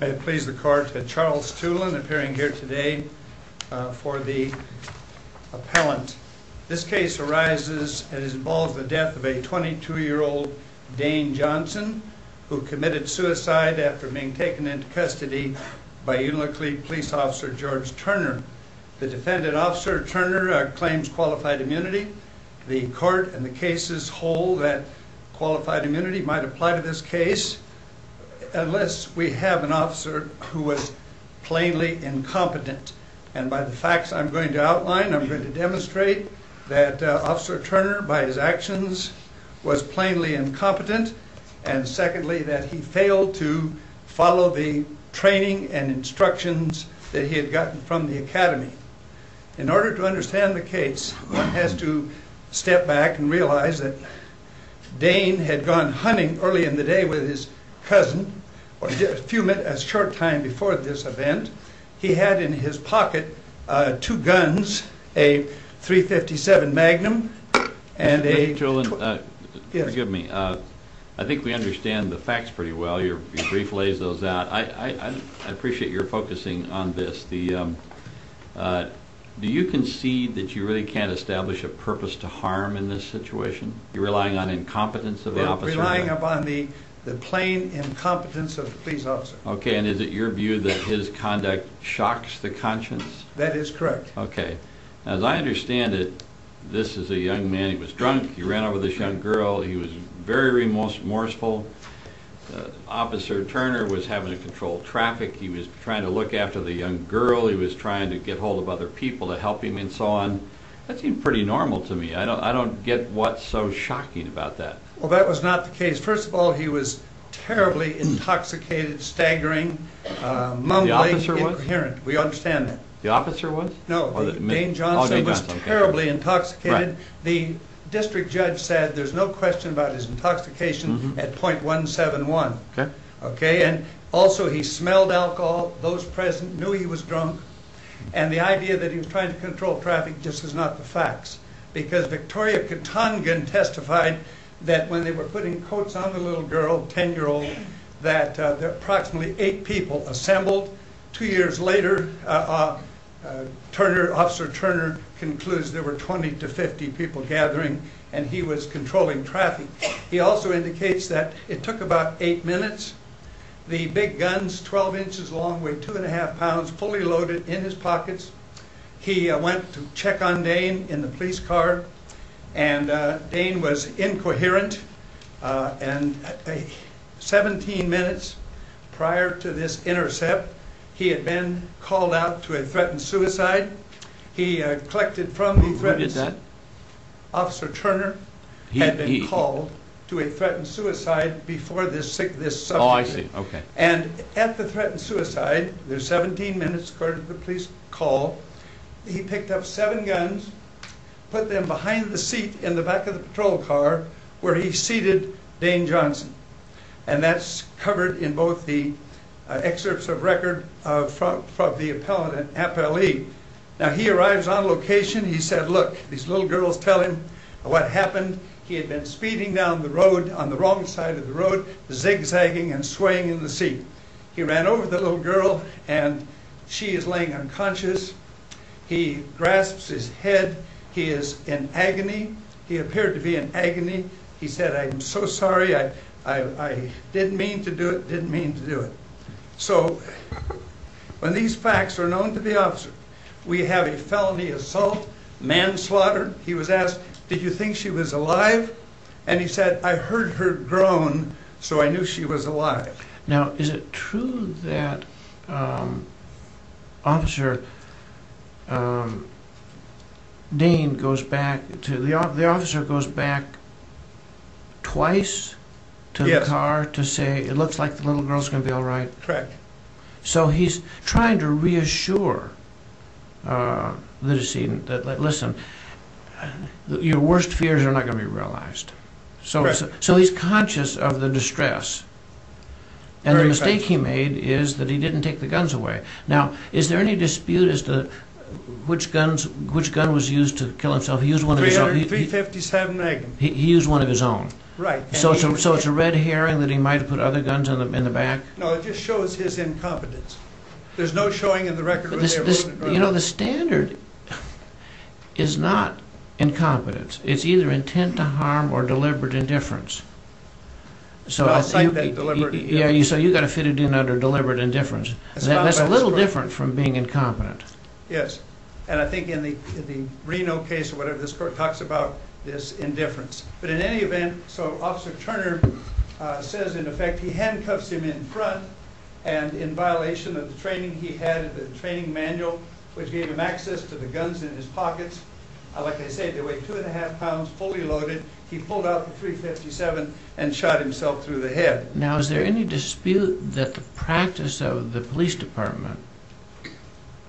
May it please the court, Charles Tulin appearing here today for the appellant. This case arises and involves the death of a 22 year old Dane Johnson who committed suicide after being taken into custody by Unalakleet police officer George Turner. The defendant, Officer Turner, claims qualified immunity. The court and the cases hold that qualified immunity might apply to this case unless we have an officer who was plainly incompetent and by the facts I'm going to outline I'm going to demonstrate that Officer Turner by his actions was plainly incompetent and secondly that he failed to follow the training and instructions that he had gotten from the Academy. In order to understand the case one has to step back and realize that Dane had gone hunting early in the day with his cousin, Fumit, a short time before this event. He had in his pocket two guns, a .357 Magnum and a... Mr. Tulin, forgive me, I think we understand the facts pretty well. Your brief lays those out. I appreciate your focusing on this. The, do you concede that you really can't establish a purpose to harm in this the plain incompetence of the police officer? Okay, and is it your view that his conduct shocks the conscience? That is correct. Okay, as I understand it this is a young man, he was drunk, he ran over this young girl, he was very remorseful. Officer Turner was having to control traffic, he was trying to look after the young girl, he was trying to get hold of other people to help him and so on. That seemed pretty normal to me. I don't, I don't get what's so shocking about that. Well that was not the case. First of all, he was terribly intoxicated, staggering, mumbly, incoherent, we understand that. The officer was? No, Dane Johnson was terribly intoxicated. The district judge said there's no question about his intoxication at .171. Okay. Okay, and also he smelled alcohol, those present knew he was drunk and the idea that he was trying to control traffic just is not the facts because Victoria Katongin testified that when they were putting coats on the little girl, ten-year-old, that there approximately eight people assembled. Two years later, Turner, Officer Turner concludes there were 20 to 50 people gathering and he was controlling traffic. He also indicates that it took about eight minutes. The big guns, 12 inches long, weighed two and a half pounds, fully loaded. And Dane was incoherent and 17 minutes prior to this intercept, he had been called out to a threatened suicide. He collected from the threat. Who did that? Officer Turner had been called to a threatened suicide before this subject. Oh, I see, okay. And at the threatened suicide, there's 17 minutes prior to the police call, he picked up seven guns, put them behind the seat in the back of the patrol car where he seated Dane Johnson. And that's covered in both the excerpts of record from the appellant and appellee. Now, he arrives on location. He said, look, these little girls tell him what happened. He had been speeding down the road on the wrong side of the road, zigzagging and swaying in the seat. He ran over the little girl and she is laying unconscious. He grasps his head. He is in agony. He appeared to be in agony. He said, I'm so sorry. I didn't mean to do it, didn't mean to do it. So when these facts are known to the officer, we have a felony assault, manslaughter. He was asked, did you think she was alive? And he said, I heard her groan, so I knew she was alive. Now, is it true that officer Dane goes back to the officer, the officer goes back twice to the car to say, it looks like the little girl is going to be all right? Correct. So he's trying to reassure the decedent that, listen, your worst fears are not going to be realized. So he's conscious of the distress. And the mistake he made is that he didn't take the guns away. Now, is there any dispute as to which gun was used to kill himself? He used one of his own. .357 Nagant. He used one of his own. Right. So it's a red herring that he might have put other guns in the back? No, it just shows his incompetence. There's no showing in the record. You know, the standard is not incompetence. It's either intent to harm or deliberate indifference. So you've got to fit it in under deliberate indifference. That's a little different from being incompetent. Yes. And I think in the Reno case or whatever, this court talks about this indifference. But in any event, so Officer Turner says, in effect, he handcuffs him in front. And in violation of the training, he had a training manual, which gave him access to the guns in his pockets. Like I say, they weighed two and a half pounds, fully loaded. He pulled out the .357 and shot himself through the head. Now, is there any dispute that the practice of the police department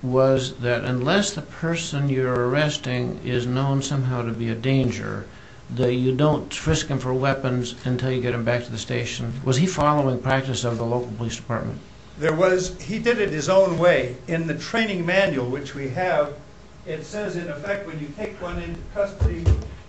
was that unless the person you're arresting is known somehow to be a danger, that you don't risk him for weapons until you get him back to the station? Was he following practice of the local police department? There was. He did it his own way. In the training manual, which we have, it says, in effect, when you take one into custody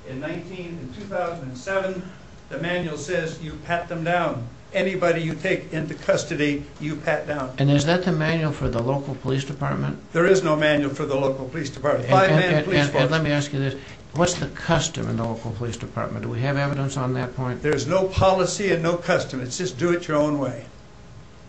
in 19, in 2007, the manual says, you pat them down. Anybody you take into custody, you pat down. And is that the manual for the local police department? There is no manual for the local police department. And let me ask you this. What's the custom in the local police department? Do we have evidence on that point? There's no policy and no custom. It's just do it your own way.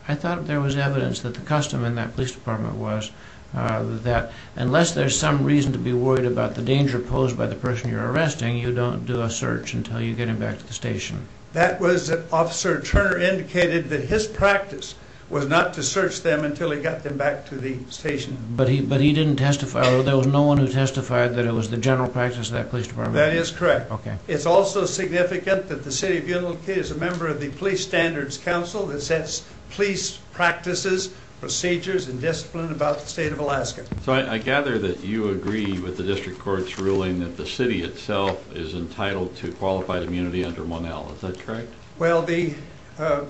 I thought there was evidence that the custom in that police department was that unless there's some reason to be worried about the danger posed by the person you're arresting, you don't do a search until you get him back to the station. That was that Officer Turner indicated that his practice was not to search them until he got them back to the station. But he didn't testify. There was no one who testified that it was the general practice of that police department? That is correct. It's also significant that the City of Unalake is a member of the Police Standards Council that sets police practices, procedures, and discipline about the state of Alaska. So I gather that you agree with the district court's ruling that the city itself is entitled to qualified immunity under 1L. Is that correct? Well, the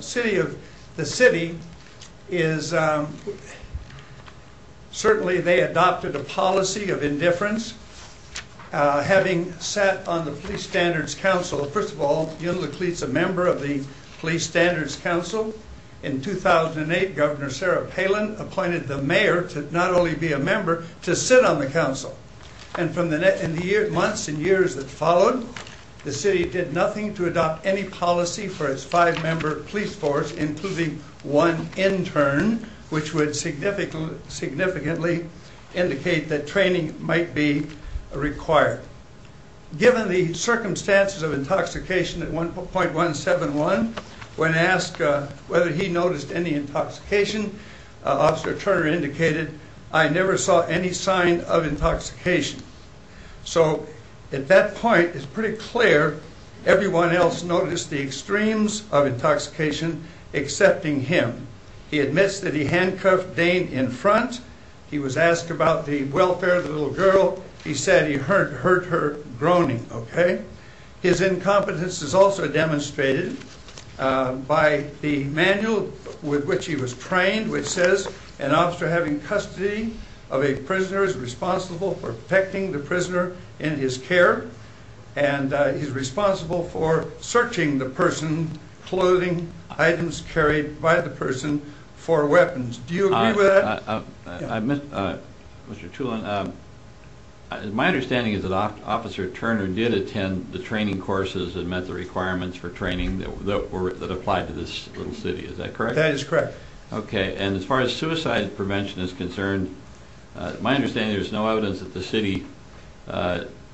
city is, certainly they adopted a policy of indifference, having sat on the Police Standards Council. First of all, Unalake is a member of the Police Standards Council. In 2008, Governor Sarah Palin appointed the mayor to not only be a member, to sit on the council. And from the months and years that followed, the city did nothing to adopt any policy for its five-member police force, including one intern, which would significantly indicate that given the circumstances of intoxication at 1.171, when asked whether he noticed any intoxication, Officer Turner indicated, I never saw any sign of intoxication. So at that point, it's pretty clear everyone else noticed the extremes of intoxication, excepting him. He admits that he handcuffed Dane in front. He was asked about the welfare of the little girl. He said he hurt her groaning, okay? His incompetence is also demonstrated by the manual with which he was trained, which says an officer having custody of a prisoner is responsible for protecting the prisoner in his care, and he's responsible for searching the person, clothing, items carried by the person for weapons. Do you believe that Officer Turner did attend the training courses that met the requirements for training that applied to this little city? Is that correct? That is correct. Okay, and as far as suicide prevention is concerned, my understanding is there's no evidence that the city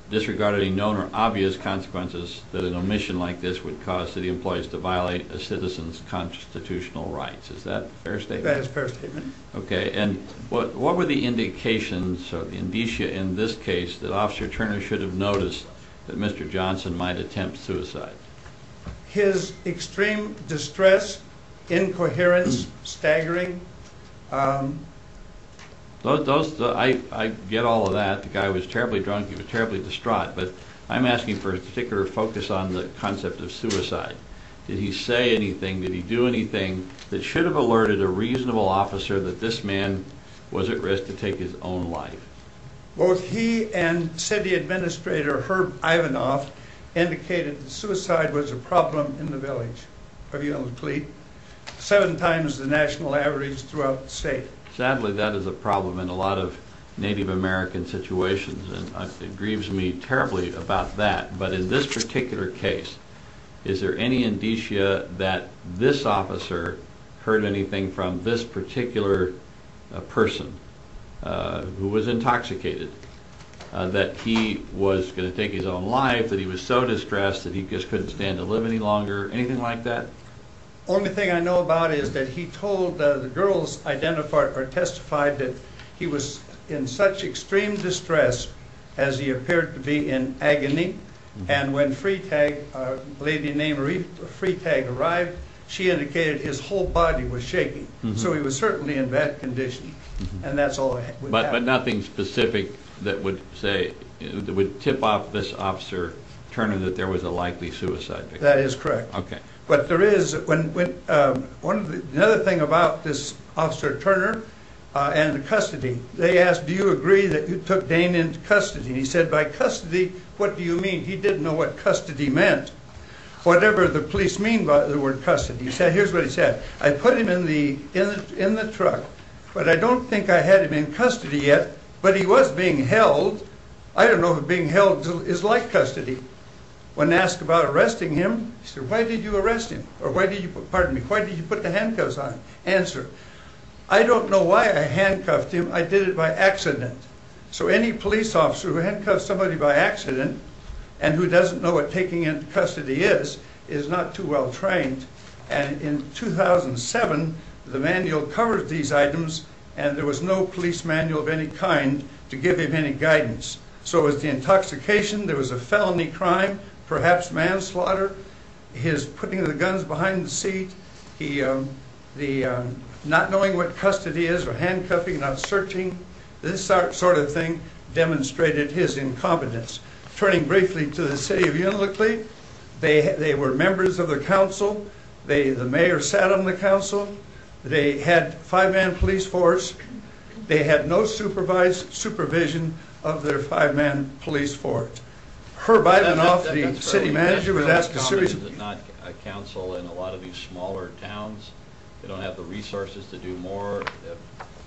disregarded any known or obvious consequences that an omission like this would cause city employees to violate a citizen's constitutional rights. Is that a fair statement? That is a fair statement. Okay, and what were the indications or the indicia in this case that Officer Turner should have noticed that Mr. Johnson might attempt suicide? His extreme distress, incoherence, staggering. I get all of that. The guy was terribly drunk. He was terribly distraught, but I'm asking for a particular focus on the concept of suicide. Did he say anything? Did he do anything that should have alerted a reasonable officer that this man was at risk to take his own life? Both he and city administrator Herb Ivanoff indicated suicide was a problem in the village of Yellow Cleet, seven times the national average throughout the state. Sadly, that is a problem in a lot of Native American situations, and it grieves me terribly about that, but in this particular case, is there any indicia that this officer heard anything from this particular person who was intoxicated, that he was going to take his own life, that he was so distressed that he just couldn't stand to live any longer, anything like that? Only thing I know about is that he told the girls identified or testified that he was in such extreme distress as he appeared to be in agony, and when Freitag, a lady named Marie Freitag arrived, she indicated his whole body was shaking, so he was certainly in bad condition, and that's all I have. But nothing specific that would say, that would tip off this officer Turner that there was a likely suicide victim? That is correct. Okay. But there is, another thing about this officer Turner and the custody, they asked, do you agree that you took Dane into custody? He said, by custody, what do you mean? He didn't know what custody meant, whatever the police mean by the word custody. He said, I put him in the, in the truck, but I don't think I had him in custody yet, but he was being held. I don't know if being held is like custody. When asked about arresting him, he said, why did you arrest him? Or why did you, pardon me, why did you put the handcuffs on? Answer, I don't know why I handcuffed him, I did it by accident. So any police officer who handcuffs somebody by accident, and who covers these items, and there was no police manual of any kind to give him any guidance. So it was the intoxication, there was a felony crime, perhaps manslaughter, his putting the guns behind the seat, he, the not knowing what custody is, or handcuffing, not searching, this sort of thing demonstrated his incompetence. Turning briefly to the city of Unalakleet, they, they were members of the council, they, the mayor sat on the council, they had five-man police force, they had no supervised supervision of their five-man police force. Herb Ivanoff, the city manager, was asked a series of... Is it not a council in a lot of these smaller towns, they don't have the resources to do more,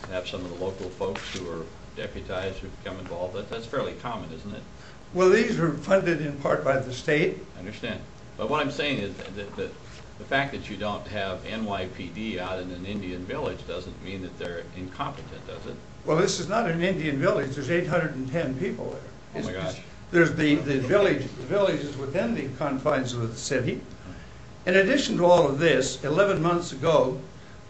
perhaps some of the local folks who are deputized, who become involved, that's fairly common, isn't it? Well, these were funded in part by the state. I understand. But what I'm saying is that the fact that you don't have NYPD out in an Indian village doesn't mean that they're incompetent, does it? Well, this is not an Indian village, there's 810 people there. Oh my gosh. There's the, the village, the village is within the confines of the city. In addition to all of this, 11 months ago,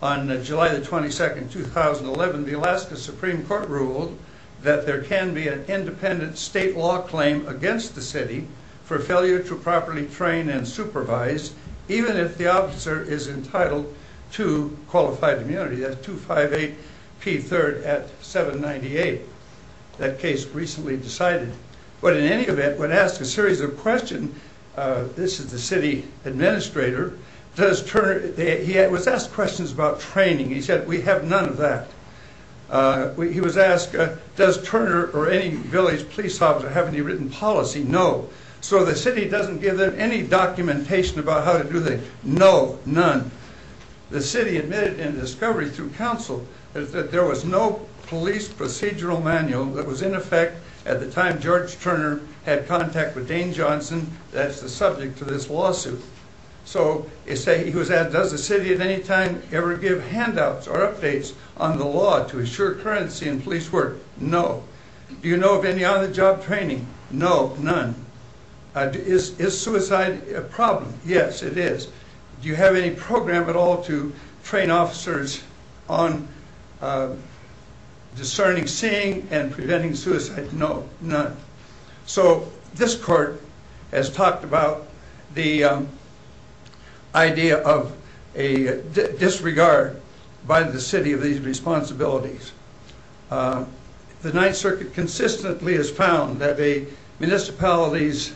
on July the 22nd, 2011, the Alaska Supreme Court ruled that there can be an independent state law claim against the for failure to properly train and supervise, even if the officer is entitled to qualified immunity. That's 258 P. 3rd at 798. That case recently decided. But in any event, when asked a series of questions, this is the city administrator, does Turner... He was asked questions about training. He said, we have none of that. He was asked, does Turner or any village police officer have any written policy? No. So the city doesn't give them any documentation about how to do that. No, none. The city admitted in discovery through council that there was no police procedural manual that was in effect at the time George Turner had contact with Dane Johnson, that's the subject to this lawsuit. So, he was asked, does the city at any time ever give handouts or updates on the law to assure currency in police work? No. Do you know of any on-the-job training? No, none. Is suicide a problem? Yes, it is. Do you have any program at all to train officers on discerning seeing and preventing suicide? No, none. So, this court has talked about the idea of a disregard by the city of responsibilities. The Ninth Circuit consistently has found that a municipality's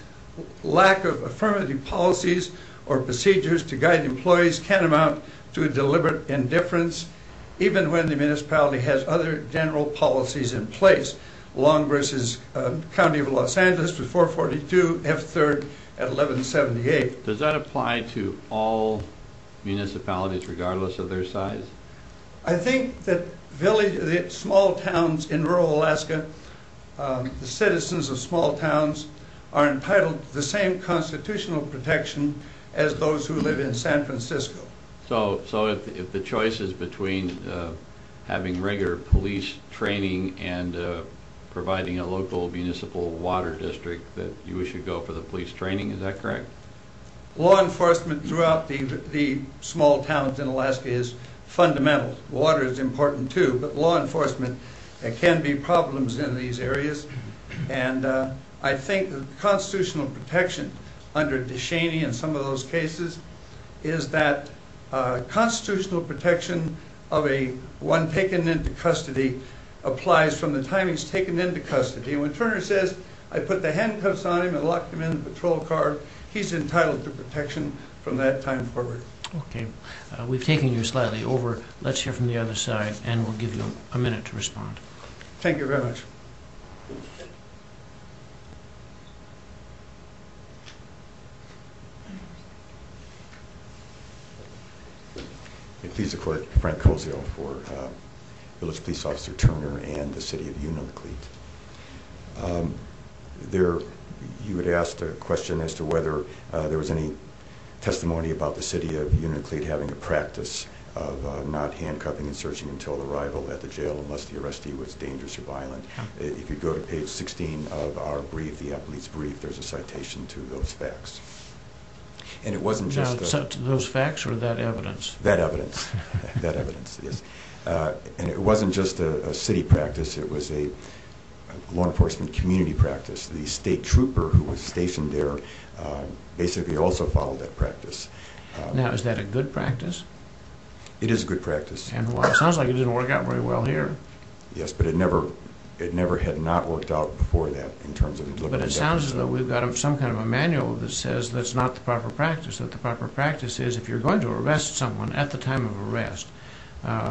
lack of affirmative policies or procedures to guide employees can amount to a deliberate indifference, even when the municipality has other general policies in place, long versus County of Los Angeles with 442, F-3rd at 1178. Does that apply to all municipalities, regardless of their size? I think that small towns in rural Alaska, the citizens of small towns are entitled to the same constitutional protection as those who live in San Francisco. So, if the choice is between having regular police training and providing a local municipal water district that you wish to go for the police training, is that correct? Law enforcement throughout the small towns in Alaska is fundamental. Water is important, too, but law enforcement can be problems in these areas, and I think the constitutional protection under DeShaney and some of those cases is that constitutional protection of a one taken into custody applies from the time he's taken into custody. When Turner says, I put the handcuffs on him and locked him in the patrol car, he's entitled to We've taken you slightly over. Let's hear from the other side, and we'll give you a minute to respond. Thank you very much. I'm pleased to report Frank Cozio for Village Police Officer Turner and the City of Unalakleet. You had asked a question as to whether there was any of not handcuffing and searching until arrival at the jail unless the arrestee was dangerous or violent. If you go to page 16 of our brief, the police brief, there's a citation to those facts. And it wasn't just... Those facts or that evidence? That evidence. And it wasn't just a city practice, it was a law enforcement community practice. The state trooper who was stationed there basically also followed that practice. Now, is that a good practice? It is a good practice. And while it sounds like it didn't work out very well here... Yes, but it never... It never had not worked out before that in terms of... But it sounds as though we've got some kind of a manual that says that's not the proper practice. That the proper practice is if you're going to arrest someone at the time of arrest,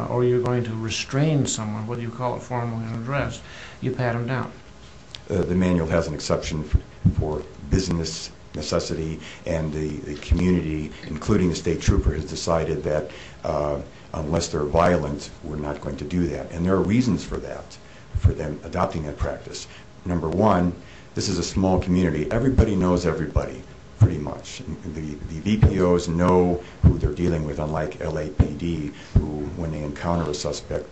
or you're going to restrain someone, whether you call it formally an arrest, you pat them down. The manual has an exception for business necessity, and the community, including the state trooper, has decided that unless they're violent, we're not going to do that. And there are reasons for that, for them adopting that practice. Number one, this is a small community. Everybody knows everybody, pretty much. And the VPOs know who they're dealing with, unlike LAPD, who, when they encounter a suspect,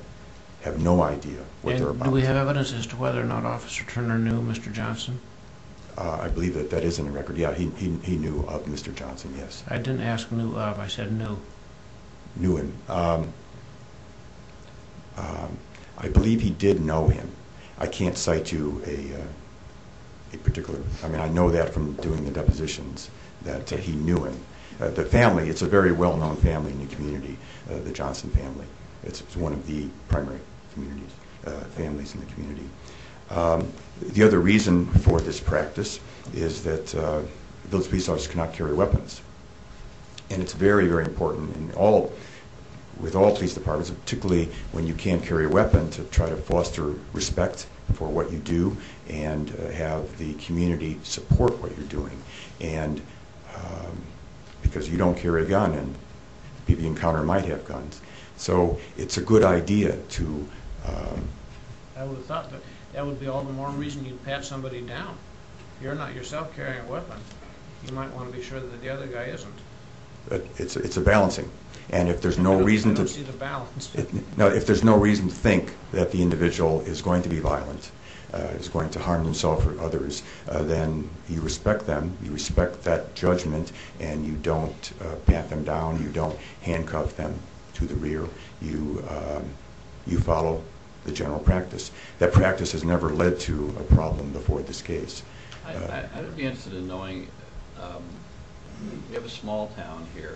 have no idea what they're about to do. And do we have evidence as to whether or not Officer Turner knew Mr. Johnson? I believe that that is in the record. Yeah, he knew of Mr. Johnson, yes. I didn't ask knew of, I said knew. Knew him. I believe he did know him. I can't cite you a particular... I mean, I know that from doing the depositions, that he knew him. The family, it's a very well known family in the community, the Johnson family. It's one of the primary communities, families in the community. The other reason for this practice is that those police officers cannot carry weapons. And it's very, very important with all police departments, particularly when you can't carry a weapon, to try to foster respect for what you do, and have the community support what you're doing. And because you don't carry a gun, and people you encounter might have guns. So it's a good idea to... I would have thought that that would be all the more reason you'd pat somebody down. You're not yourself carrying a weapon. You might wanna be sure that the other guy isn't. It's a balancing. And if there's no reason to... I don't see the balance. No, if there's no reason to think that the individual is going to be violent, is going to harm himself or others, then you respect them, you respect that judgment, and you don't pat them down, you don't handcuff them to the rear. You follow the general practice. That practice has never led to a problem before this case. I'd be interested in knowing... We have a small town here.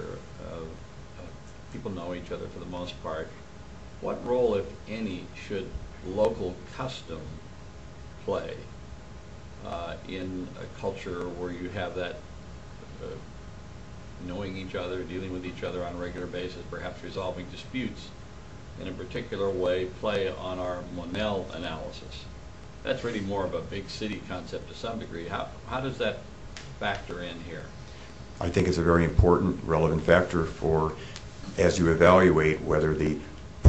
People know each other for the most part. What role, if any, should local custom play in a culture where you have that knowing each other, dealing with each other on a regular basis, perhaps resolving disputes in a particular way, play on our Monell analysis? That's really more of a big city concept to some degree. How does that factor in here? I think it's a very important relevant factor for, as you evaluate whether the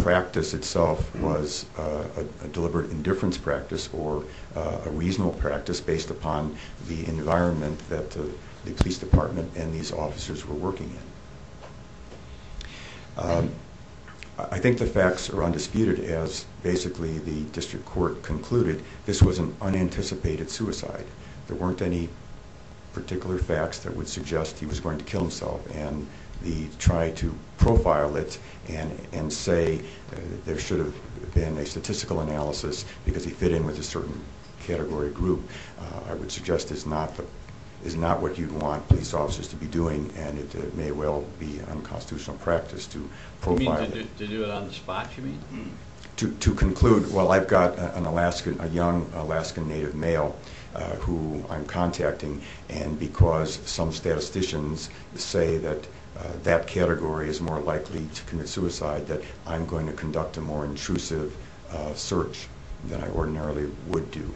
practice itself was a deliberate indifference practice or a practice that the district court and these officers were working in. I think the facts are undisputed, as basically the district court concluded, this was an unanticipated suicide. There weren't any particular facts that would suggest he was going to kill himself, and the try to profile it and say there should have been a statistical analysis because he fit in with a certain category group, I would suggest is not what you'd want police officers to be doing, and it may well be unconstitutional practice to profile... You mean to do it on the spot, you mean? To conclude, well, I've got a young Alaskan native male who I'm contacting, and because some statisticians say that that category is more likely to commit suicide, that I'm going to conduct a more intrusive search than I ordinarily would do.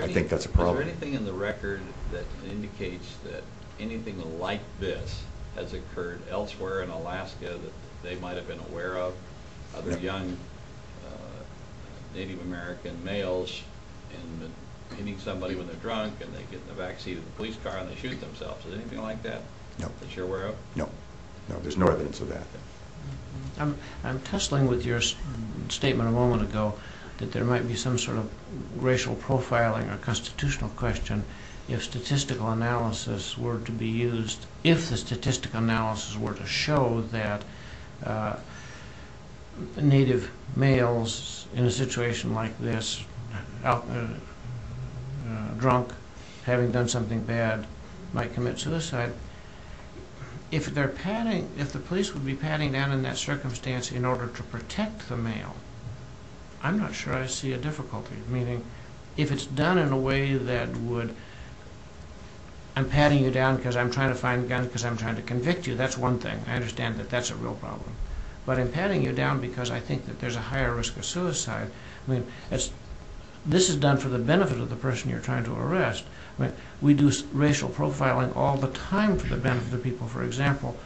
I think that's a problem. Is there anything in the record that indicates that anything like this has occurred elsewhere in Alaska that they might have been aware of? Other young Native American males and hitting somebody when they're drunk and they get in the back seat of the police car and they shoot themselves. Is there anything like that that you're aware of? No. No, there's no evidence of that. I'm tussling with your statement a moment ago that there might be some sort of racial profiling or constitutional question if statistical analysis were to be used, if the statistical analysis were to show that Native males in a situation like this, drunk, having done something bad, might commit suicide. If they're padding, if the police would be padding down in that circumstance in order to protect the male, I'm not sure I see a difficulty. Meaning, if it's done in a way that would... I'm padding you down because I'm trying to find a gun because I'm trying to convict you. That's one thing. I understand that that's a real problem. But I'm padding you down because I think that there's a higher risk of suicide. I mean, this is done for the benefit of the person you're trying to arrest. We do racial profiling all the time for the benefit of the people. For example,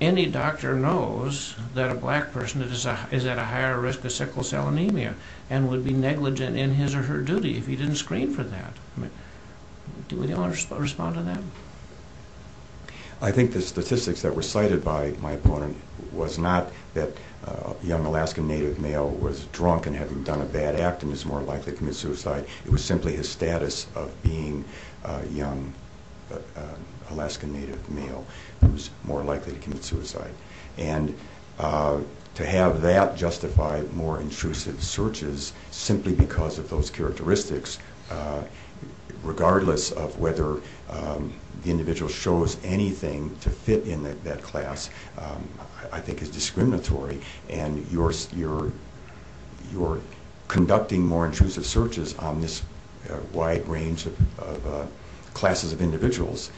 any doctor knows that a black person is at a higher risk of sickle cell anemia and would be negligent in his or her duty if he didn't screen for that. Do we want to respond to that? I think the statistics that were cited by my opponent was not that a young Alaskan Native male was drunk and had done a bad act and is more likely to commit suicide. It was simply his status of being a young Alaskan Native male who's more likely to commit suicide. And to have that justify more intrusive searches simply because of those characteristics, regardless of whether the individual shows anything to fit in that class, I think is discriminatory. And you're conducting more intrusive searches on this wide range of classes of individuals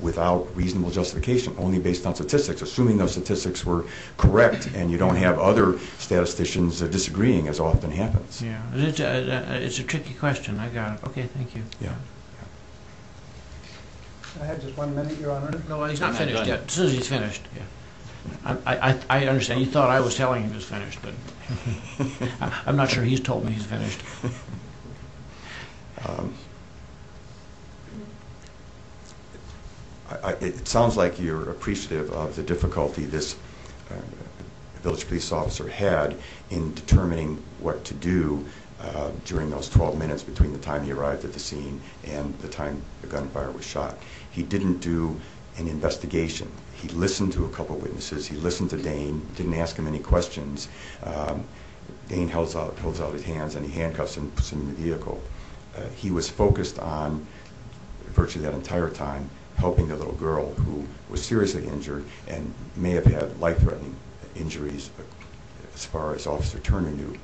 without reasonable justification, only based on statistics, assuming those statistics were correct and you don't have other statisticians disagreeing, as often happens. Yeah, it's a tricky question. I got it. Okay, thank you. Can I have just one minute, Your Honor? No, he's not finished yet. Suzie's finished. I understand. You thought I was telling him he was finished, but I'm not sure he's told me he's finished. It sounds like you're appreciative of the difficulty this Village Police Officer had in determining what to do during those 12 minutes between the time he arrived at the scene and the time the gunfire was shot. He didn't do an investigation. He listened to a couple of witnesses. He listened to any questions. Dane holds out his hands, and he handcuffs him to the vehicle. He was focused on, virtually that entire time, helping the little girl who was seriously injured and may have had life-threatening injuries as far as Officer Turner knew.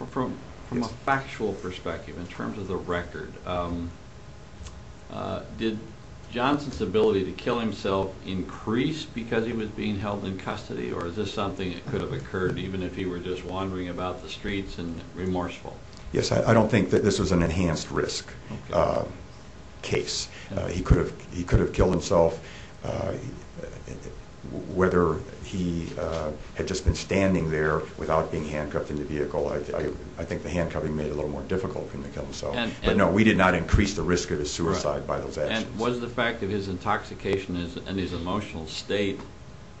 From a factual perspective, in terms of the record, did Johnson's ability to kill himself increase because he was being held in custody, or is this something that could have occurred even if he were just wandering about the streets and remorseful? Yes, I don't think that this was an enhanced risk case. He could have killed himself. Whether he had just been standing there without being handcuffed in the vehicle, I think the handcuffing made it a little more difficult for him to kill himself. But no, we did not increase the risk of his suicide by those actions. And was the fact of his intoxication and his emotional state,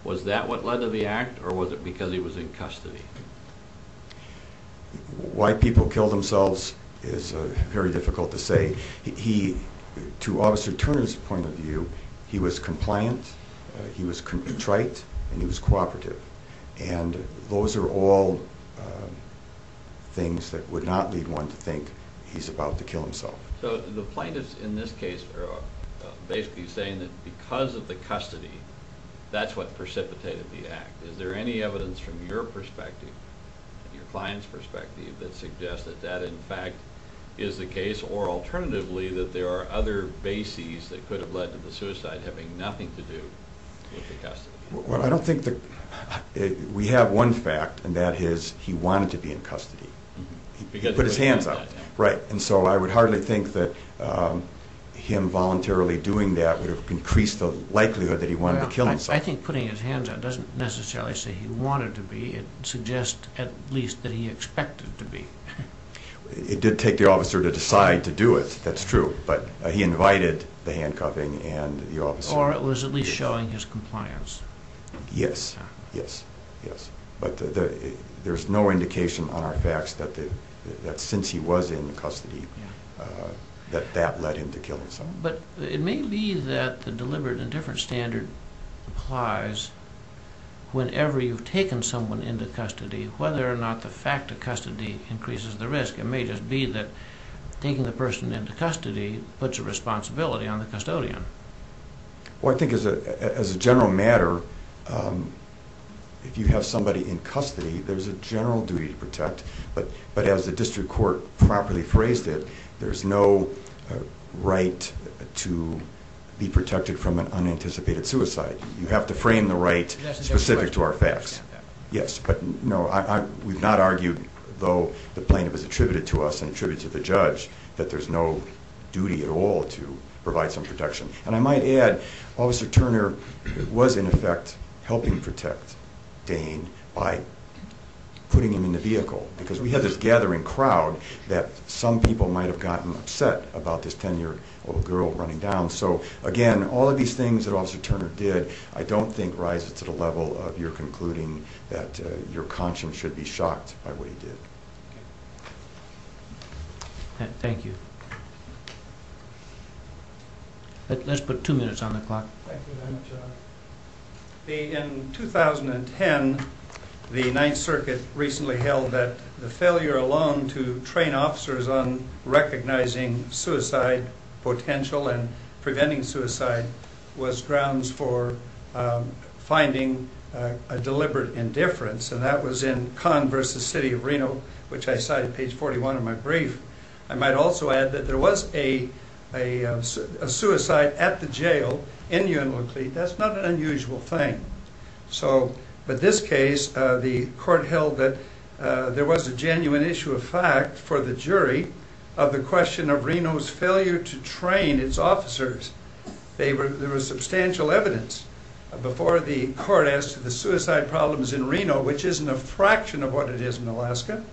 was that what led to the act, or was it because he was in custody? Why people kill themselves is very difficult to say. To Officer Turner's point of view, he was compliant, he was trite, and he was cooperative. And those are all things that would not lead one to think he's about to kill himself. So the plaintiffs in this case are basically saying that because of the custody, that's what precipitated the act. Is there any evidence from your perspective, your client's perspective, that suggests that that in fact is the case? Or alternatively, that there are other bases that could have led to the suicide having nothing to do with the custody? Well, I don't think that... We have one fact, and that is he wanted to be in custody. He put his hands up. Right. And so I would hardly think that him voluntarily doing that would have increased the likelihood that he wanted to kill himself. I think putting his hands up doesn't necessarily say he wanted to be, it suggests at least that he expected to be. It did take the officer to decide to do it, that's true, but he invited the handcuffing and the officer... Or it was at least showing his compliance. Yes, yes, yes. But there's no indication on our facts that since he was in custody, that that led him to kill himself. But it may be that the deliberate and different standard applies whenever you've taken someone into custody, whether or not the fact of custody increases the risk. It may just be that taking the person into custody puts a responsibility on the custodian. Well, I think as a general matter, if you have somebody in custody, there's a general duty to protect, but as the district court properly phrased it, there's no right to be protected from an unanticipated suicide. You have to frame the right specific to our facts. Yes, but no, we've not argued, though the plaintiff has attributed to us and attributed to the judge, that there's no duty at all to provide some protection. And I might add, Officer Turner was in effect helping protect Dane by putting him in the vehicle, because we had this gathering crowd that some people might have gotten upset about this ten year old girl running down. So again, all of these things that Officer Turner did, I don't think rises to the level of your concluding that your conscience should be shocked by what he did. Thank you. Let's put two minutes on the clock. In 2010, the Ninth Circuit recently held that the failure alone to recognizing suicide potential and preventing suicide was grounds for finding a deliberate indifference. And that was in Kahn versus City of Reno, which I cited page 41 of my brief. I might also add that there was a suicide at the jail in Unalakleet. That's not an unusual thing. So, but this case, the court held that there was a genuine issue of the jury of the question of Reno's failure to train its officers. There was substantial evidence before the court as to the suicide problems in Reno, which isn't a fraction of what it is in Alaska.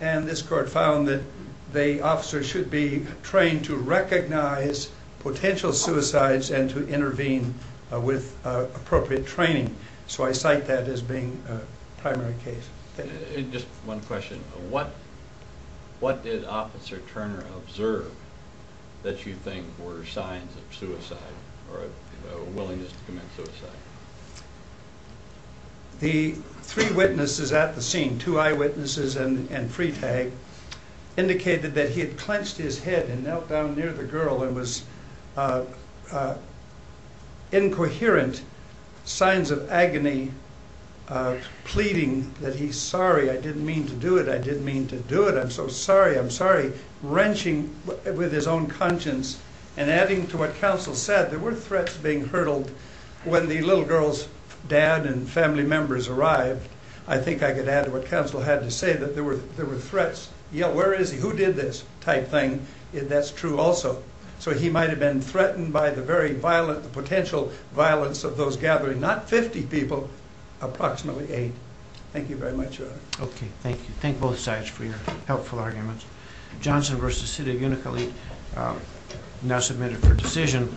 And this court found that the officers should be trained to recognize potential suicides and to intervene with appropriate training. So I cite that as being a primary case. Just one question. What did Officer Turner observe that you think were signs of suicide or a willingness to commit suicide? The three witnesses at the scene, two eyewitnesses and Freitag, indicated that he had clenched his head and knelt down near the girl and was incoherent, signs of agony, pleading that he's sorry. I didn't mean to do it. I didn't mean to do it. I'm so sorry. I'm sorry. Wrenching with his own conscience and adding to what counsel said. There were threats being hurdled when the little girl's dad and family members arrived. I think I could add to what counsel had to say that there were threats. Yeah, where is he? Who did this type thing? That's true also. So he might have been threatened by the very violent, the potential violence of those gathering, not 50 people, approximately eight. Thank you very much. Okay. Thank you. Thank both sides for your helpful arguments. Johnson versus City of Unacoly now submitted for decision.